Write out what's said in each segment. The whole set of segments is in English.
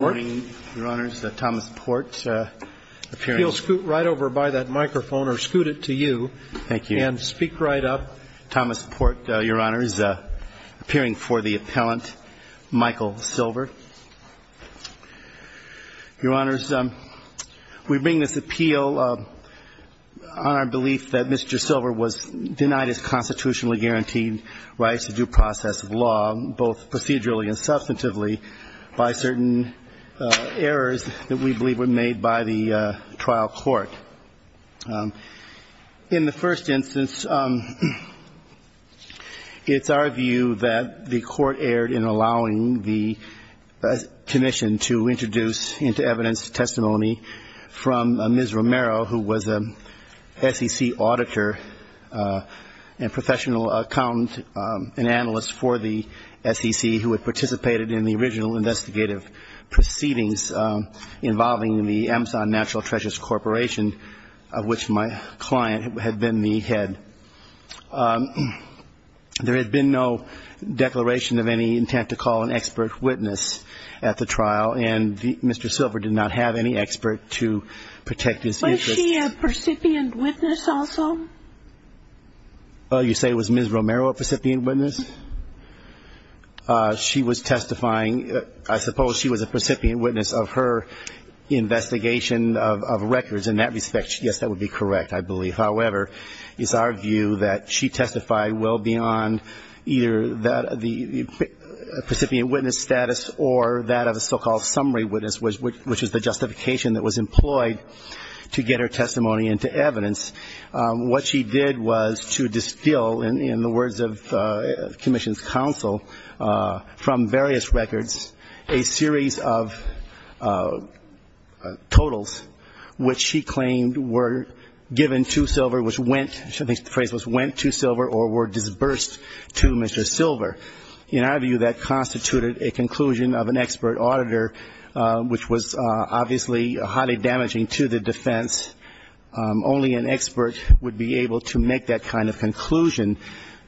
Good morning, Your Honors. Thomas Porte, appearing for the appellant, Michael Sylver. Your Honors, we bring this appeal on our belief that Mr. Sylver was denied his constitutionally errors that we believe were made by the trial court. In the first instance, it's our view that the court erred in allowing the commission to introduce into evidence testimony from Ms. Romero, who was a SEC auditor and professional accountant and analyst for the SEC who had participated in the original investigative proceedings. involving the Amazon Natural Treasures Corporation, of which my client had been the head. There had been no declaration of any intent to call an expert witness at the trial, and Mr. Sylver did not have any expert to protect his interests. Was she a recipient witness also? You say was Ms. Romero a recipient witness? She was testifying. I suppose she was a recipient witness of her investigation of records in that respect. Yes, that would be correct, I believe. However, it's our view that she testified well beyond either the recipient witness status or that of a so-called summary witness, which is the justification that was employed to get her testimony into evidence. What she did was to distill, in the words of the commission's counsel, from various records, a series of totals, which she claimed were given to Sylver, which went to Sylver or were disbursed to Mr. Sylver. In our view, that constituted a conclusion of an expert auditor, which was obviously highly damaging to the defense. Only an expert would be able to make that kind of conclusion.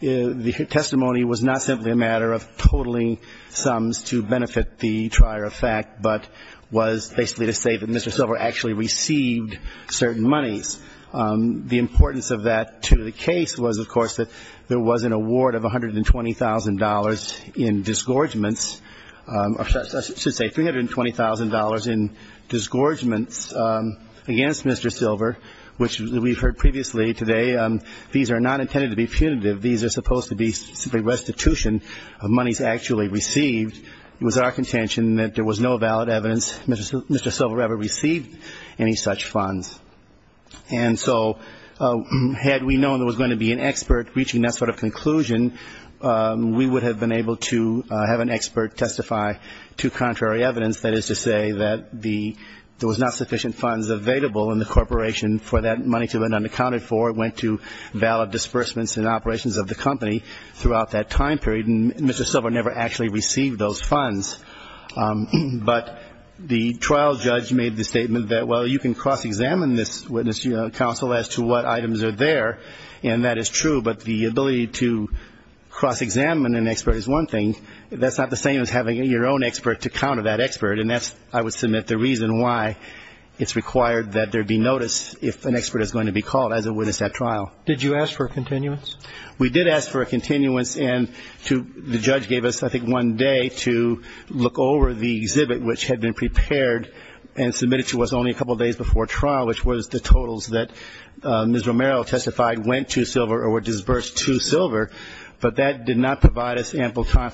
The testimony was not simply a matter of totaling sums to benefit the trier of fact, but was basically to say that Mr. Sylver actually received certain monies. The importance of that to the case was, of course, that there was an award of $120,000 in disgorgements, or I should say $320,000 in disgorgements against Mr. Sylver, which we heard previously today, these are not intended to be punitive. These are supposed to be simply restitution of monies actually received. It was our contention that there was no valid evidence Mr. Sylver ever received any such funds. And so had we known there was going to be an expert reaching that sort of conclusion, we would have been able to have an expert testify to contrary evidence, that is to say that there was not sufficient funds available in the corporation for that money to have been unaccounted for. The court went to valid disbursements and operations of the company throughout that time period, and Mr. Sylver never actually received those funds. But the trial judge made the statement that, well, you can cross-examine this witness counsel as to what items are there, and that is true, but the ability to cross-examine an expert is one thing. That's not the same as having your own expert to counter that expert, and that's, I would submit, the reason why it's required that there be notice if an expert is going to be called as a witness at trial. Did you ask for a continuance? We did ask for a continuance, and the judge gave us, I think, one day to look over the exhibit which had been prepared and submitted to us only a couple days before trial, which was the totals that Ms. Romero testified went to Sylver or were disbursed to Sylver, but that did not provide us ample time.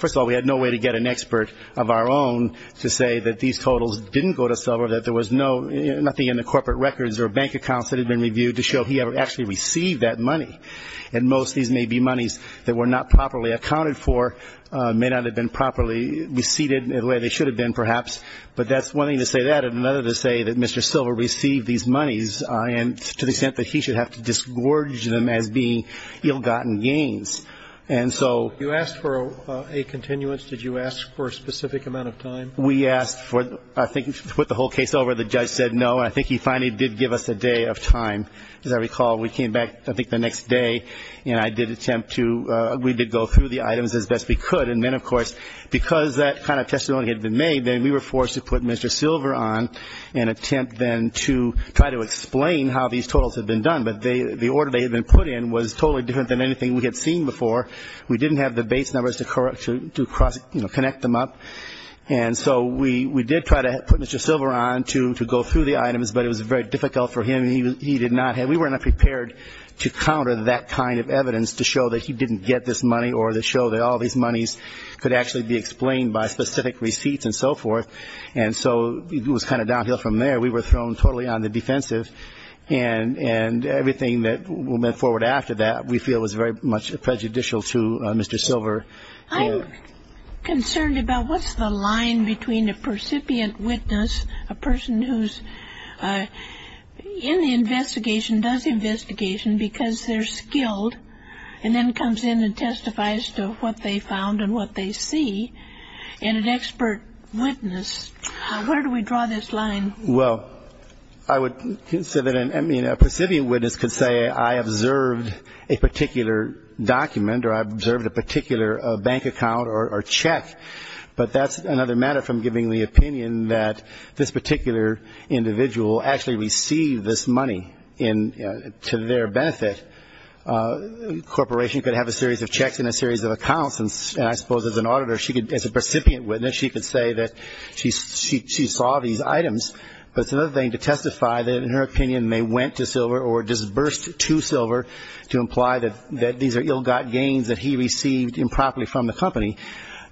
And most of these may be monies that were not properly accounted for, may not have been properly received the way they should have been, perhaps, but that's one thing to say that and another to say that Mr. Sylver received these monies to the extent that he should have to disgorge them as being ill-gotten gains. And so you asked for a continuance. Did you ask for a specific amount of time? We asked for, I think, to put the whole case over. The judge said no. I think he finally did give us a day of time. As I recall, we came back, I think, the next day, and I did attempt to go through the items as best we could. And then, of course, because that kind of testimony had been made, then we were forced to put Mr. Sylver on and attempt then to try to explain how these totals had been done. But the order they had been put in was totally different than anything we had seen before. We didn't have the base numbers to connect them up. And so we did try to put Mr. Sylver on to go through the items, but it was very difficult for him. I mean, he did not have we were not prepared to counter that kind of evidence to show that he didn't get this money or to show that all these monies could actually be explained by specific receipts and so forth. And so it was kind of downhill from there. We were thrown totally on the defensive. And everything that went forward after that we feel was very much prejudicial to Mr. Sylver. I'm concerned about what's the line between a percipient witness, a person who's in the investigation, does the investigation because they're skilled, and then comes in and testifies to what they found and what they see, and an expert witness. Where do we draw this line? Well, I would say that a percipient witness could say I observed a particular document or I observed a particular bank account or check, but that's another matter from giving the opinion that this particular individual actually received this money to their benefit. A corporation could have a series of checks and a series of accounts, and I suppose as an auditor, as a percipient witness, she could say that she saw these items. But it's another thing to testify that, in her opinion, they went to Sylver or disbursed to Sylver to imply that these are ill-got gains that he received improperly from the company.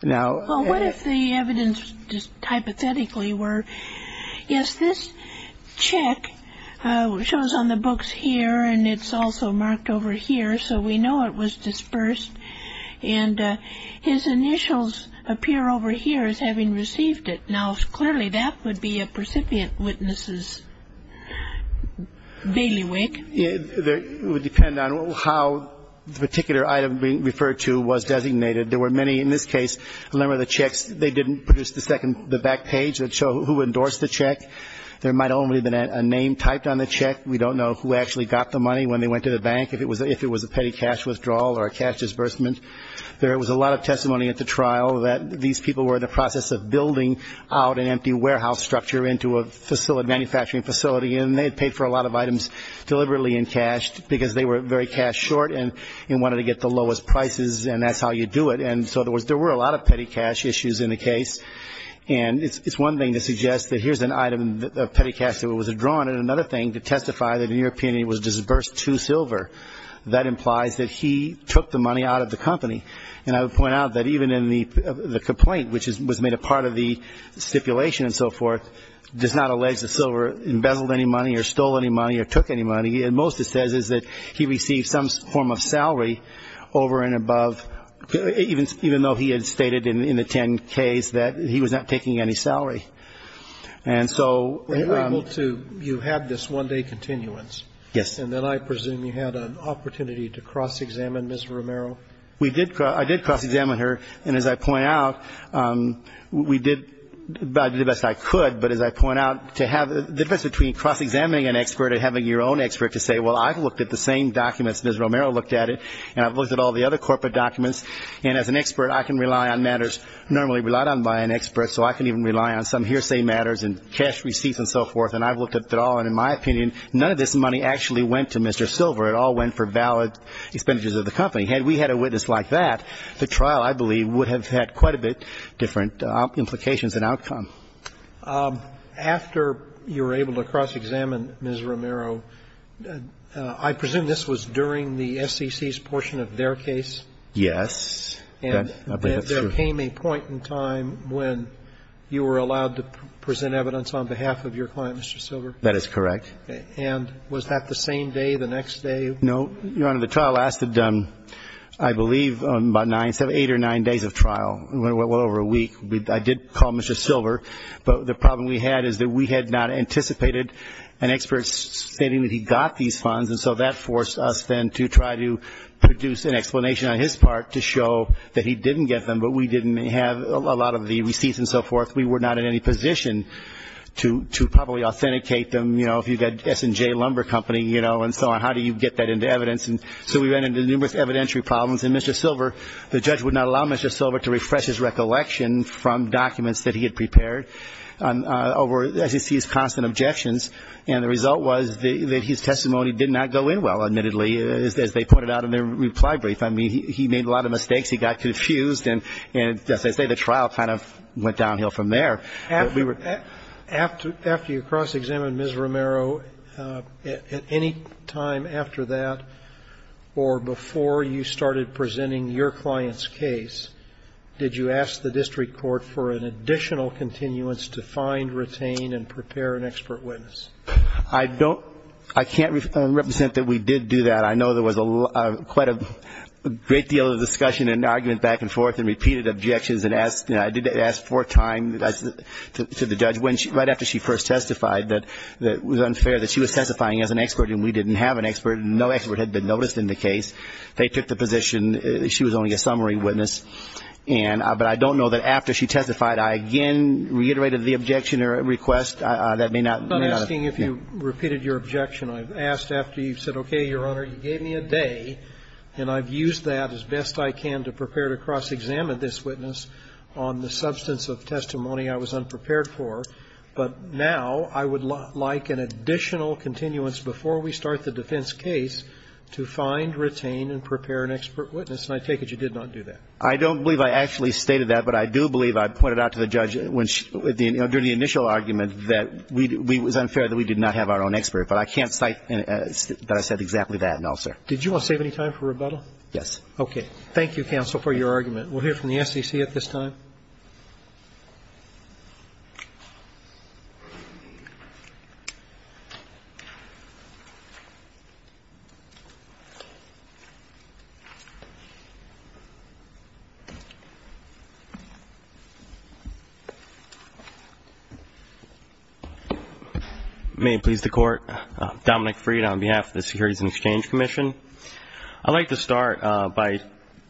Well, what if the evidence just hypothetically were, yes, this check shows on the books here, and it's also marked over here, so we know it was disbursed. And his initials appear over here as having received it. Now, clearly, that would be a percipient witness' bailiwick. It would depend on how the particular item being referred to was designated. There were many in this case, a number of the checks, they didn't produce the second, the back page that showed who endorsed the check. There might only have been a name typed on the check. We don't know who actually got the money when they went to the bank, if it was a petty cash withdrawal or a cash disbursement. There was a lot of testimony at the trial that these people were in the process of building out an empty warehouse structure into a manufacturing facility, and they had paid for a lot of items deliberately in cash because they were very cash short and wanted to get the lowest prices, and that's how you do it. And so there were a lot of petty cash issues in the case. And it's one thing to suggest that here's an item of petty cash that was withdrawn, but I wanted another thing to testify that the European Union was disbursed too silver. That implies that he took the money out of the company. And I would point out that even in the complaint, which was made a part of the stipulation and so forth, does not allege that Silver embezzled any money or stole any money or took any money. Most it says is that he received some form of salary over and above, even though he had stated in the 10-Ks that he was not taking any salary. And so you had this one-day continuance. Yes. And then I presume you had an opportunity to cross-examine Ms. Romero. I did cross-examine her, and as I point out, we did the best I could, but as I point out, the difference between cross-examining an expert and having your own expert to say, well, I've looked at the same documents, Ms. Romero looked at it, and I've looked at all the other corporate documents, and as an expert, I can rely on matters normally relied on by an expert, so I can even rely on some hearsay matters and cash receipts and so forth, and I've looked at it all. And in my opinion, none of this money actually went to Mr. Silver. It all went for valid expenditures of the company. Had we had a witness like that, the trial, I believe, would have had quite a bit different implications and outcome. After you were able to cross-examine Ms. Romero, I presume this was during the SEC's portion of their case? Yes. And there came a point in time when you were allowed to present evidence on behalf of your client, Mr. Silver? That is correct. Okay. And was that the same day, the next day? No. Your Honor, the trial lasted, I believe, about eight or nine days of trial, well over a week. I did call Mr. Silver, but the problem we had is that we had not anticipated an expert stating that he got these funds, and so that forced us then to try to produce an explanation on his part to show that he didn't get them, but we didn't have a lot of the receipts and so forth. We were not in any position to probably authenticate them, you know, if you've got S&J Lumber Company, you know, and so on. How do you get that into evidence? And so we ran into numerous evidentiary problems, and Mr. Silver, the judge would not allow Mr. Silver to refresh his recollection from documents that he had prepared over his constant objections, and the result was that his testimony did not go in well, admittedly, as they pointed out in their reply brief. I mean, he made a lot of mistakes. He got confused, and as I say, the trial kind of went downhill from there. After you cross-examined Ms. Romero, at any time after that or before you started presenting your client's case, did you ask the district court for an additional continuance to find, retain, and prepare an expert witness? I don't – I can't represent that we did do that. I know there was quite a great deal of discussion and argument back and forth and repeated objections, and I did ask four times to the judge right after she first testified that it was unfair that she was testifying as an expert and we didn't have an expert, and no expert had been noticed in the case. They took the position she was only a summary witness. And – but I don't know that after she testified, I again reiterated the objection or request. That may not – may not have been. I'm not asking if you repeated your objection. I've asked after you've said, okay, Your Honor, you gave me a day, and I've used that as best I can to prepare to cross-examine this witness on the substance of testimony I was unprepared for. But now I would like an additional continuance before we start the defense case to find, retain, and prepare an expert witness, and I take it you did not do that. I don't believe I actually stated that, but I do believe I pointed out to the judge when she – during the initial argument that we – it was unfair that we did not have our own expert. But I can't cite that I said exactly that, no, sir. Did you want to save any time for rebuttal? Yes. Okay. Thank you, counsel, for your argument. We'll hear from the SEC at this time. Thank you, Your Honor. May it please the Court, Dominic Freed on behalf of the Securities and Exchange Commission. I'd like to start by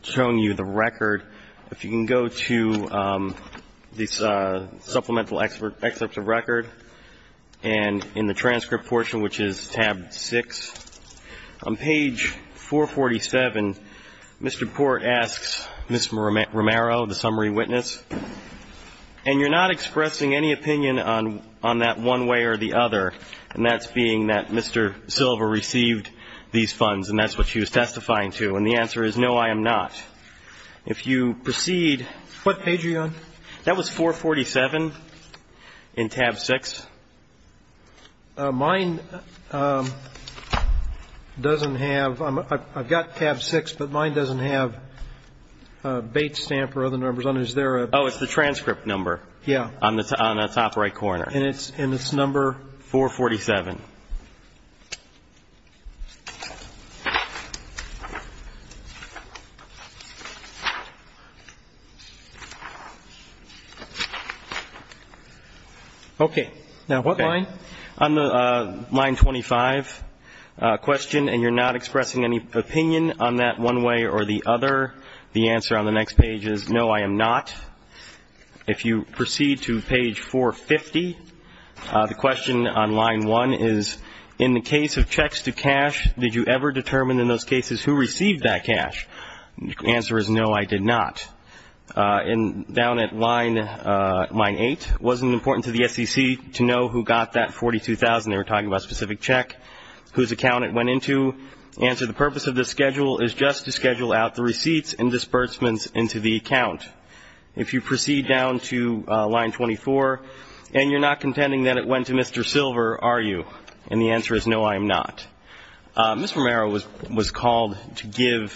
showing you the record. If you can go to this supplemental excerpt of record, and in the transcript portion, which is tab 6, on page 447, Mr. Port asks Ms. Romero, the summary witness, and you're not expressing any opinion on that one way or the other, and that's being that Mr. Silva received these funds and that's what she was testifying to, and the answer is no, I am not. If you proceed – What page are you on? That was 447 in tab 6. Mine doesn't have – I've got tab 6, but mine doesn't have Bates Stamp or other numbers on it. Is there a – Oh, it's the transcript number. Yeah. On the top right corner. And it's number – 447. Okay. Now, what line? On the line 25 question, and you're not expressing any opinion on that one way or the other, the answer on the next page is no, I am not. If you proceed to page 450, the question on line 1 is, in the case of checks to cash, did you ever determine in those cases who received that cash? The answer is no, I did not. And down at line 8, wasn't it important to the SEC to know who got that $42,000? They were talking about a specific check. Whose account it went into? The purpose of this schedule is just to schedule out the receipts and disbursements into the account. If you proceed down to line 24, and you're not contending that it went to Mr. Silver, are you? And the answer is no, I am not. Mr. Romero was called to give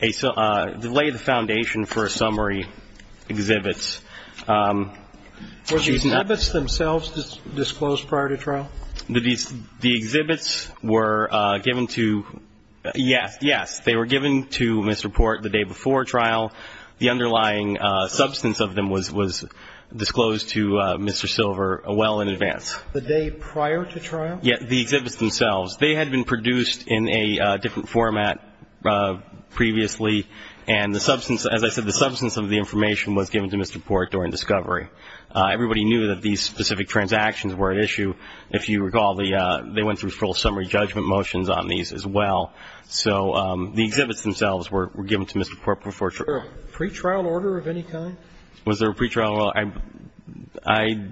a – lay the foundation for a summary exhibits. Were the exhibits themselves disclosed prior to trial? The exhibits were given to – yes, yes. They were given to Mr. Port the day before trial. The underlying substance of them was disclosed to Mr. Silver well in advance. The day prior to trial? Yes, the exhibits themselves. They had been produced in a different format previously, and the substance – as I said, the substance of the information was given to Mr. Port during discovery. Everybody knew that these specific transactions were at issue. If you recall, they went through full summary judgment motions on these as well. So the exhibits themselves were given to Mr. Port before trial. Was there a pretrial order of any kind? Was there a pretrial order? I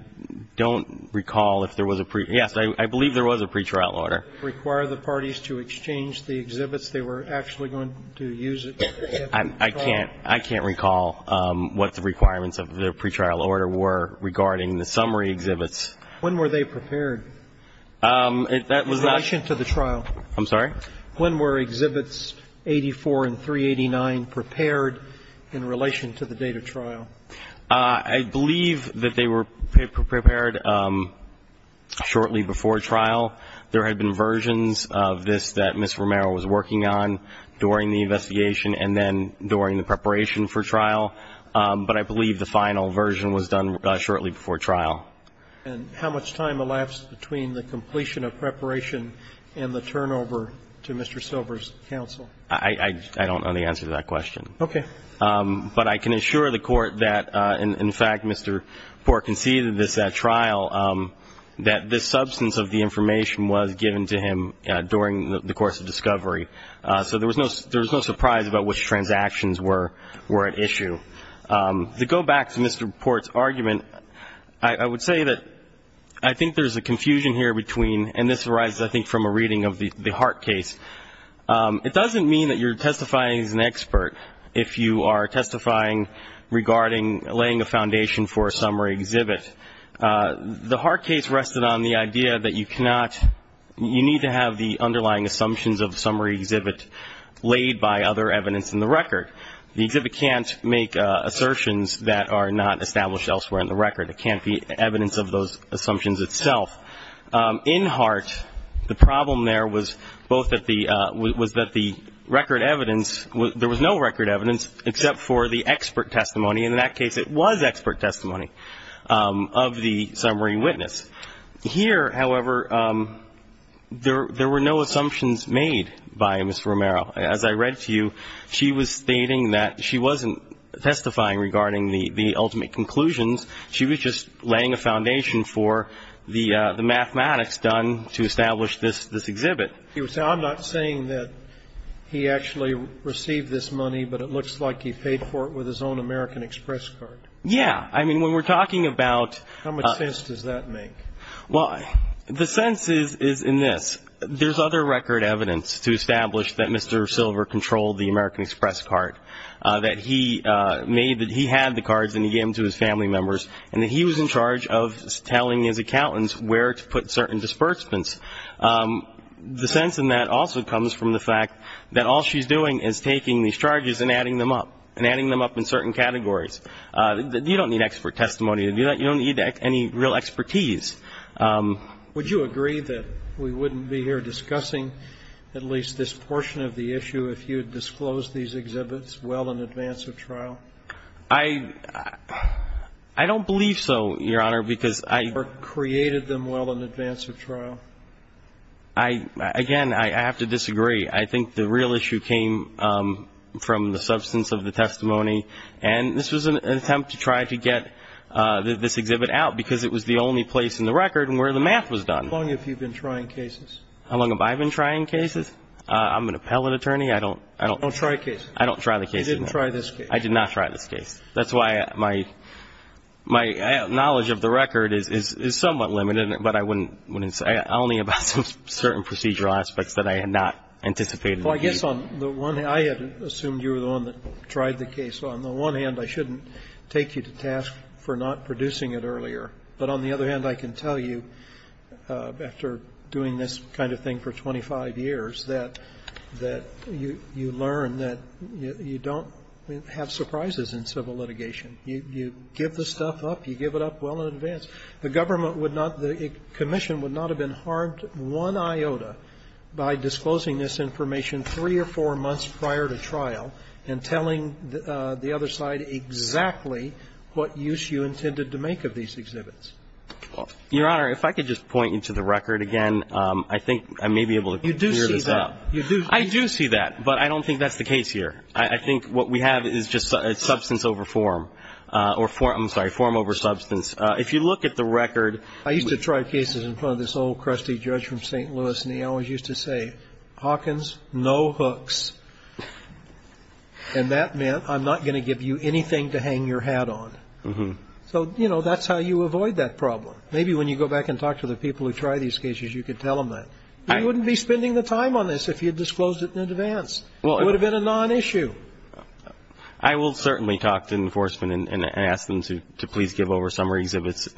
don't recall if there was a – yes, I believe there was a pretrial order. Did it require the parties to exchange the exhibits? They were actually going to use it? I can't – I can't recall what the requirements of the pretrial order were regarding the summary exhibits. When were they prepared in relation to the trial? I'm sorry? When were exhibits 84 and 389 prepared in relation to the date of trial? I believe that they were prepared shortly before trial. There had been versions of this that Ms. Romero was working on during the investigation and then during the preparation for trial, but I believe the final version was done shortly before trial. And how much time elapsed between the completion of preparation and the turnover to Mr. Silver's counsel? I don't know the answer to that question. Okay. But I can assure the Court that, in fact, Mr. Port conceded this at trial, that this substance of the information was given to him during the course of discovery. So there was no surprise about which transactions were at issue. To go back to Mr. Port's argument, I would say that I think there's a confusion here between – and this arises, I think, from a reading of the Hart case. It doesn't mean that you're testifying as an expert if you are testifying regarding laying a foundation for a summary exhibit. The Hart case rested on the idea that you cannot – you need to have the underlying assumptions of a summary exhibit laid by other evidence in the record. The exhibit can't make assertions that are not established elsewhere in the record. It can't be evidence of those assumptions itself. In Hart, the problem there was both that the – was that the record evidence – there was no record evidence except for the expert testimony. In that case, it was expert testimony of the summary witness. Here, however, there were no assumptions made by Ms. Romero. As I read to you, she was stating that she wasn't testifying regarding the ultimate conclusions. She was just laying a foundation for the mathematics done to establish this exhibit. I'm not saying that he actually received this money, but it looks like he paid for it with his own American Express card. Yeah. I mean, when we're talking about – How much sense does that make? Well, the sense is in this. There's other record evidence to establish that Mr. Silver controlled the American Express card, that he made – that he had the cards and he gave them to his family members, and that he was in charge of telling his accountants where to put certain disbursements. The sense in that also comes from the fact that all she's doing is taking these charges and adding them up, and adding them up in certain categories. You don't need expert testimony to do that. You don't need any real expertise. Would you agree that we wouldn't be here discussing at least this portion of the issue if you had disclosed these exhibits well in advance of trial? I don't believe so, Your Honor, because I – Or created them well in advance of trial? Again, I have to disagree. I think the real issue came from the substance of the testimony, and this was an attempt to try to get this exhibit out because it was the only place in the record where the math was done. How long have you been trying cases? How long have I been trying cases? I'm an appellate attorney. I don't – Don't try cases. I don't try the cases. You didn't try this case. I did not try this case. That's why my knowledge of the record is somewhat limited, but I wouldn't say only about certain procedural aspects that I had not anticipated. Well, I guess on the one hand, I had assumed you were the one that tried the case. On the one hand, I shouldn't take you to task for not producing it earlier. But on the other hand, I can tell you, after doing this kind of thing for 25 years, that you learn that you don't have surprises in civil litigation. You give the stuff up. You give it up well in advance. The government would not – the commission would not have been harmed one iota by disclosing this information three or four months prior to trial and telling the other side exactly what use you intended to make of these exhibits. Your Honor, if I could just point you to the record again, I think I may be able to clear this up. You do see that. I do see that, but I don't think that's the case here. I think what we have is just substance over form or form – I'm sorry, form over substance. If you look at the record – I used to try cases in front of this old crusty judge from St. Louis, and he always used to say, Hawkins, no hooks. And that meant I'm not going to give you anything to hang your hat on. So, you know, that's how you avoid that problem. Maybe when you go back and talk to the people who try these cases, you could tell them that. You wouldn't be spending the time on this if you had disclosed it in advance. It would have been a non-issue. I will certainly talk to enforcement and ask them to please give over summary exhibits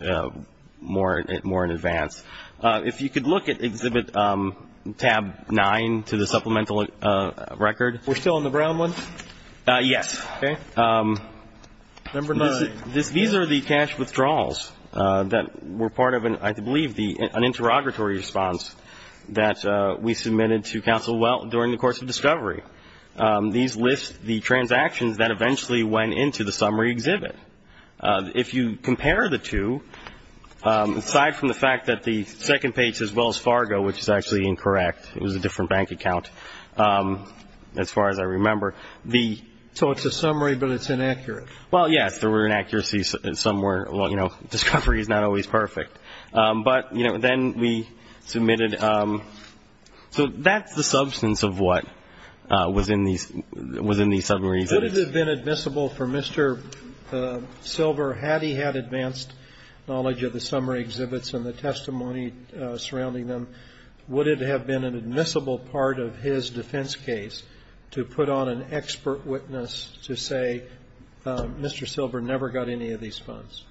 more in advance. If you could look at exhibit tab 9 to the supplemental record. We're still on the brown one? Yes. Okay. Number 9. These are the cash withdrawals that were part of, I believe, an interrogatory response that we submitted to counsel during the course of discovery. These list the transactions that eventually went into the summary exhibit. If you compare the two, aside from the fact that the second page, as well as Fargo, which is actually incorrect, it was a different bank account as far as I remember. So it's a summary, but it's inaccurate? Well, yes, there were inaccuracies somewhere. Well, you know, discovery is not always perfect. But, you know, then we submitted so that's the substance of what was in these summaries. Would it have been admissible for Mr. Silver, had he had advanced knowledge of the summary exhibits and the testimony surrounding them, would it have been an admissible part of his defense case to put on an expert witness to say, Mr. Silver never got any of these funds?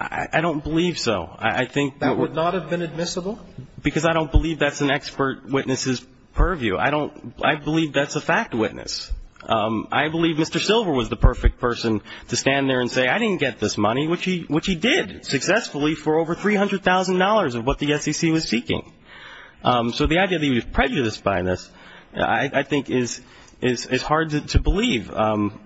I don't believe so. That would not have been admissible? Because I don't believe that's an expert witness' purview. I believe that's a fact witness. I believe Mr. Silver was the perfect person to stand there and say, I didn't get this money, which he did successfully for over $300,000 of what the SEC was seeking. So the idea that he was prejudiced by this, I think, is hard to believe.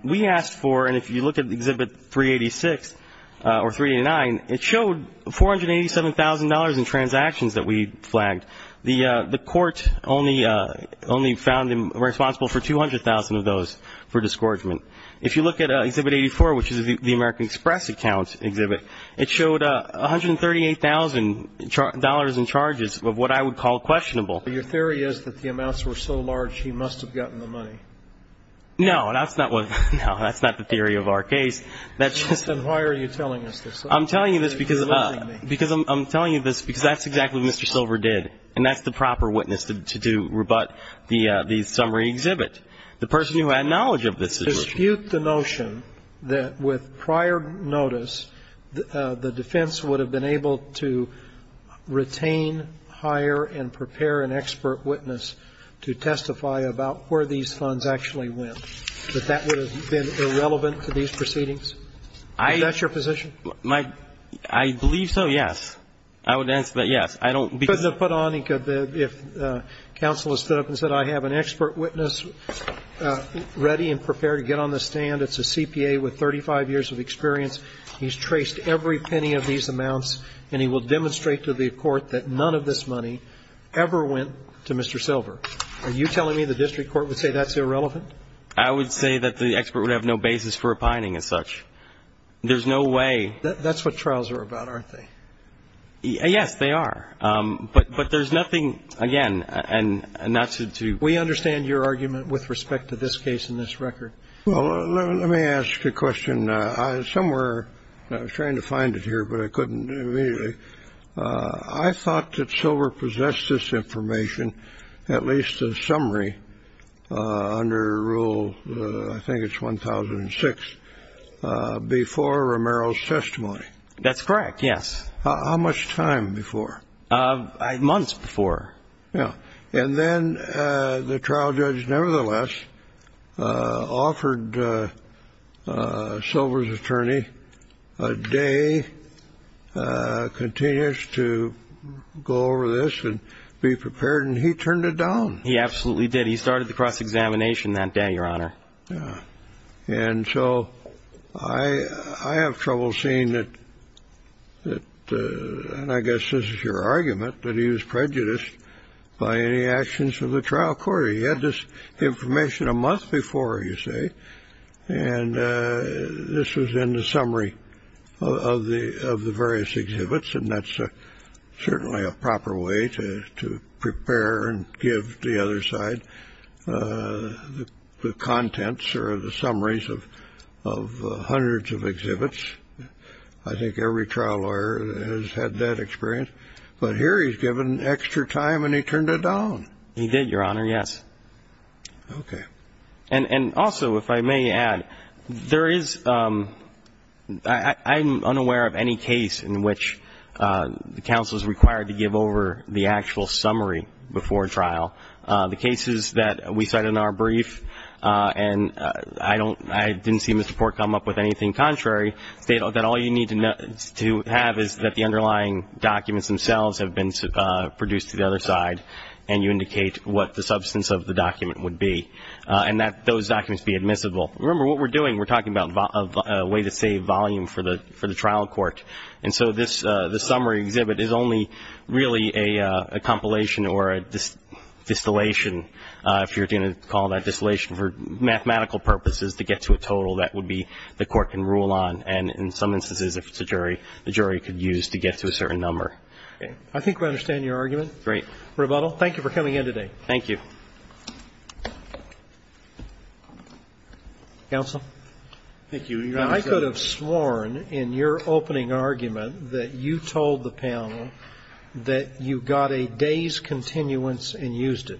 We asked for, and if you look at Exhibit 386 or 389, it showed $487,000 in transactions that we flagged. The court only found responsible for 200,000 of those for disgorgement. If you look at Exhibit 84, which is the American Express account exhibit, it showed $138,000 in charges of what I would call questionable. Your theory is that the amounts were so large he must have gotten the money. No, that's not the theory of our case. Then why are you telling us this? I'm telling you this because that's exactly what Mr. Silver did, and that's the proper witness to rebut the summary exhibit, the person who had knowledge of this situation. Dispute the notion that with prior notice, the defense would have been able to retain, hire, and prepare an expert witness to testify about where these funds actually went, that that would have been irrelevant to these proceedings? Is that your position? I believe so, yes. I would answer that yes. I don't begin to put on, if counsel has stood up and said, I have an expert witness ready and prepared to get on the stand, it's a CPA with 35 years of experience, he's traced every penny of these amounts, and he will demonstrate to the court that none of this money ever went to Mr. Silver. Are you telling me the district court would say that's irrelevant? I would say that the expert would have no basis for opining as such. There's no way. That's what trials are about, aren't they? Yes, they are. But there's nothing, again, and not to do. We understand your argument with respect to this case and this record. Well, let me ask a question. I was trying to find it here, but I couldn't immediately. I thought that Silver possessed this information, at least a summary, under Rule, I think it's 1006, before Romero's testimony. That's correct, yes. How much time before? Months before. And then the trial judge, nevertheless, offered Silver's attorney a day continuous to go over this and be prepared, and he turned it down. He absolutely did. He started the cross-examination that day, Your Honor. And so I have trouble seeing that, and I guess this is your argument, that he was prejudiced by any actions of the trial court. He had this information a month before, you say, and this was in the summary of the various exhibits, and that's certainly a proper way to prepare and give the other side the contents or the summaries of hundreds of exhibits. I think every trial lawyer has had that experience. But here he's given extra time, and he turned it down. He did, Your Honor, yes. Okay. And also, if I may add, there is unaware of any case in which the counsel is required to give over the actual summary before trial. The cases that we cite in our brief, and I didn't see Mr. Port come up with anything contrary, state that all you need to have is that the underlying documents themselves have been produced to the other side, and you indicate what the substance of the document would be, and that those documents be admissible. Remember, what we're doing, we're talking about a way to save volume for the trial court. And so this summary exhibit is only really a compilation or a distillation. If you're going to call that distillation for mathematical purposes to get to a total, that would be the court can rule on, and in some instances, if it's a jury, the jury could use to get to a certain number. Okay. I think we understand your argument. Great. Rebuttal. Thank you for coming in today. Thank you. Counsel. Thank you, Your Honor. Now, I could have sworn in your opening argument that you told the panel that you got a day's continuance and used it.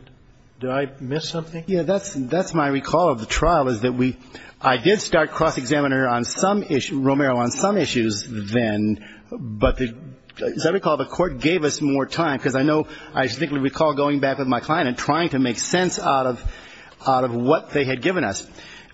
Did I miss something? Yeah, that's my recall of the trial, is that I did start cross-examiner on some issues, Romero, on some issues then, but as I recall, the court gave us more time, because I know I distinctly recall going back with my client and trying to make sense out of what they had given us.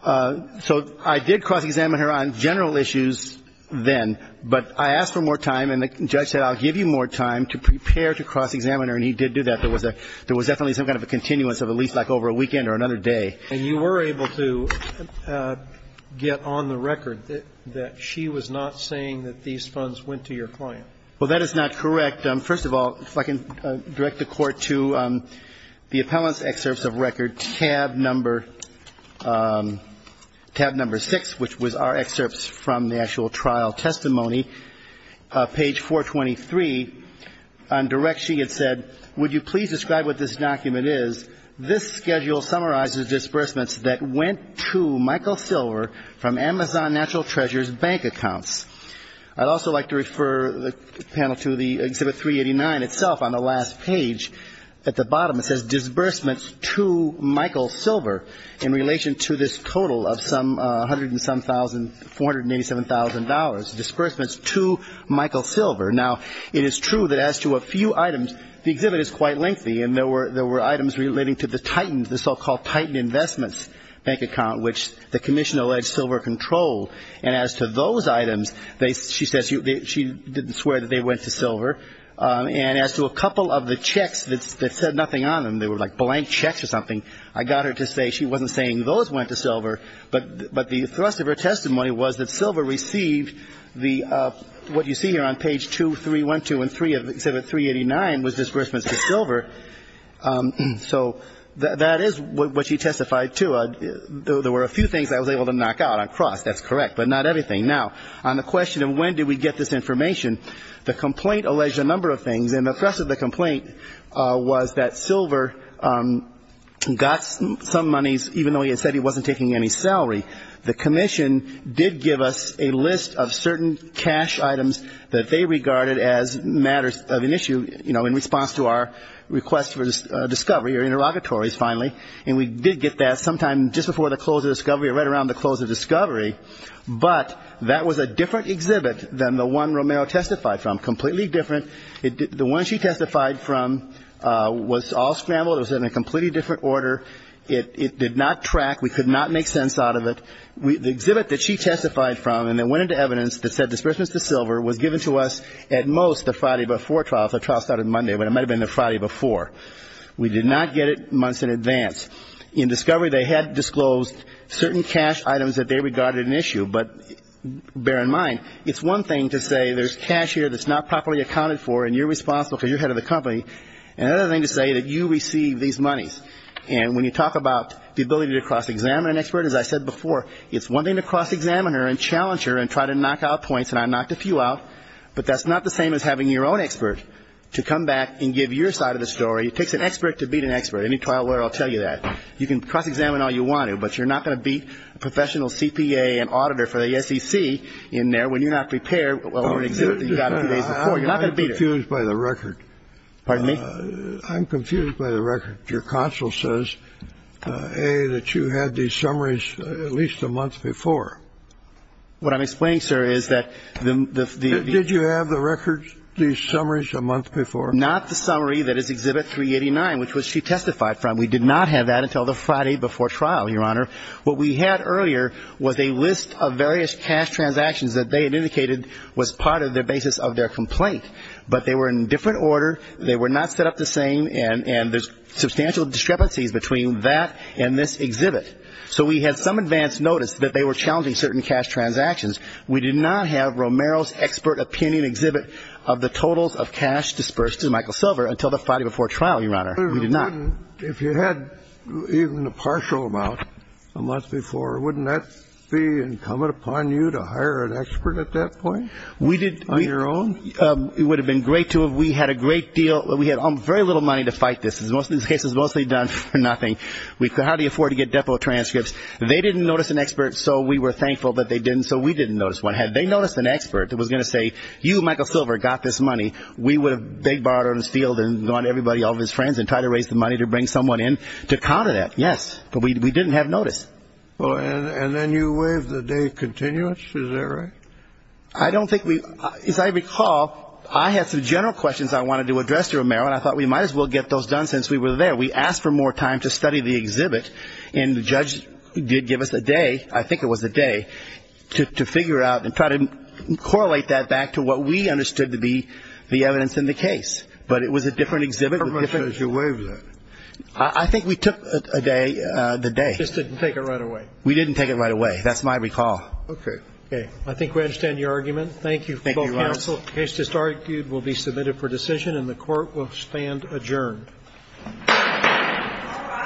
So I did cross-examiner on general issues then, but I asked for more time, and the judge said, I'll give you more time to prepare to cross-examiner, and he did do that. There was definitely some kind of a continuance of at least like over a weekend or another day. And you were able to get on the record that she was not saying that these funds went to your client. Well, that is not correct. First of all, if I can direct the Court to the appellant's excerpts of record, tab number 6, which was our excerpts from the actual trial testimony, page 423. On direction, it said, Would you please describe what this document is? This schedule summarizes disbursements that went to Michael Silver from Amazon Natural Treasures bank accounts. I'd also like to refer the panel to the Exhibit 389 itself on the last page. At the bottom, it says disbursements to Michael Silver in relation to this total of some $187,000, disbursements to Michael Silver. Now, it is true that as to a few items, the exhibit is quite lengthy, and there were items relating to the Titans, the so-called Titan Investments bank account, which the commission alleged Silver controlled. And as to those items, she says she didn't swear that they went to Silver. And as to a couple of the checks that said nothing on them, they were like blank checks or something, I got her to say she wasn't saying those went to Silver, but the thrust of her testimony was that Silver received the what you see here on page 2312 and 3 of Exhibit 389 was disbursements to Silver. So that is what she testified to. There were a few things I was able to knock out on cross. That's correct, but not everything. Now, on the question of when did we get this information, the complaint alleged a number of things. And the thrust of the complaint was that Silver got some monies, even though he had said he wasn't taking any salary. The commission did give us a list of certain cash items that they regarded as matters of an issue, you know, in response to our request for discovery or interrogatories finally. And we did get that sometime just before the close of discovery or right around the close of discovery. But that was a different exhibit than the one Romero testified from, completely different. The one she testified from was all scrambled. It was in a completely different order. It did not track. We could not make sense out of it. The exhibit that she testified from and that went into evidence that said disbursements to Silver was given to us at most the Friday before trial. So trial started Monday, but it might have been the Friday before. We did not get it months in advance. In discovery, they had disclosed certain cash items that they regarded an issue. But bear in mind, it's one thing to say there's cash here that's not properly accounted for and you're responsible because you're head of the company. Another thing to say that you receive these monies. And when you talk about the ability to cross-examine an expert, as I said before, it's one thing to cross-examine her and challenge her and try to knock out points. And I knocked a few out. But that's not the same as having your own expert to come back and give your side of the story. It takes an expert to beat an expert. Any trial lawyer will tell you that. You can cross-examine all you want to, but you're not going to beat a professional CPA and auditor for the SEC in there when you're not prepared. I'm confused by the record. Pardon me? I'm confused by the record. Your counsel says, A, that you had these summaries at least a month before. What I'm explaining, sir, is that the ‑‑ Did you have the records, these summaries a month before? Not the summary that is Exhibit 389, which was she testified from. We did not have that until the Friday before trial, Your Honor. What we had earlier was a list of various cash transactions that they had indicated was part of the basis of their complaint. But they were in different order. They were not set up the same. And there's substantial discrepancies between that and this exhibit. So we had some advance notice that they were challenging certain cash transactions. We did not have Romero's expert opinion exhibit of the totals of cash disbursed to Michael Silver until the Friday before trial, Your Honor. We did not. And if you had even a partial amount a month before, wouldn't that be incumbent upon you to hire an expert at that point? We did. On your own? It would have been great to have. We had a great deal. We had very little money to fight this. This case was mostly done for nothing. How do you afford to get depo transcripts? They didn't notice an expert, so we were thankful that they didn't, so we didn't notice one. Had they noticed an expert that was going to say, you, Michael Silver, got this money, we would have begged Bart on his field and gone to everybody, all of his friends, and tried to raise the money to bring someone in to counter that. Yes. But we didn't have notice. And then you waived the day continuance. Is that right? I don't think we – as I recall, I had some general questions I wanted to address to Romero, and I thought we might as well get those done since we were there. We asked for more time to study the exhibit, and the judge did give us a day, I think it was a day, to figure out and try to correlate that back to what we understood to be the evidence in the case. But it was a different exhibit. How much did you waive that? I think we took a day, the day. You just didn't take it right away. We didn't take it right away. That's my recall. Okay. Okay. I think we understand your argument. Thank you both counsel. The case just argued will be submitted for decision, and the Court will stand adjourned. All rise.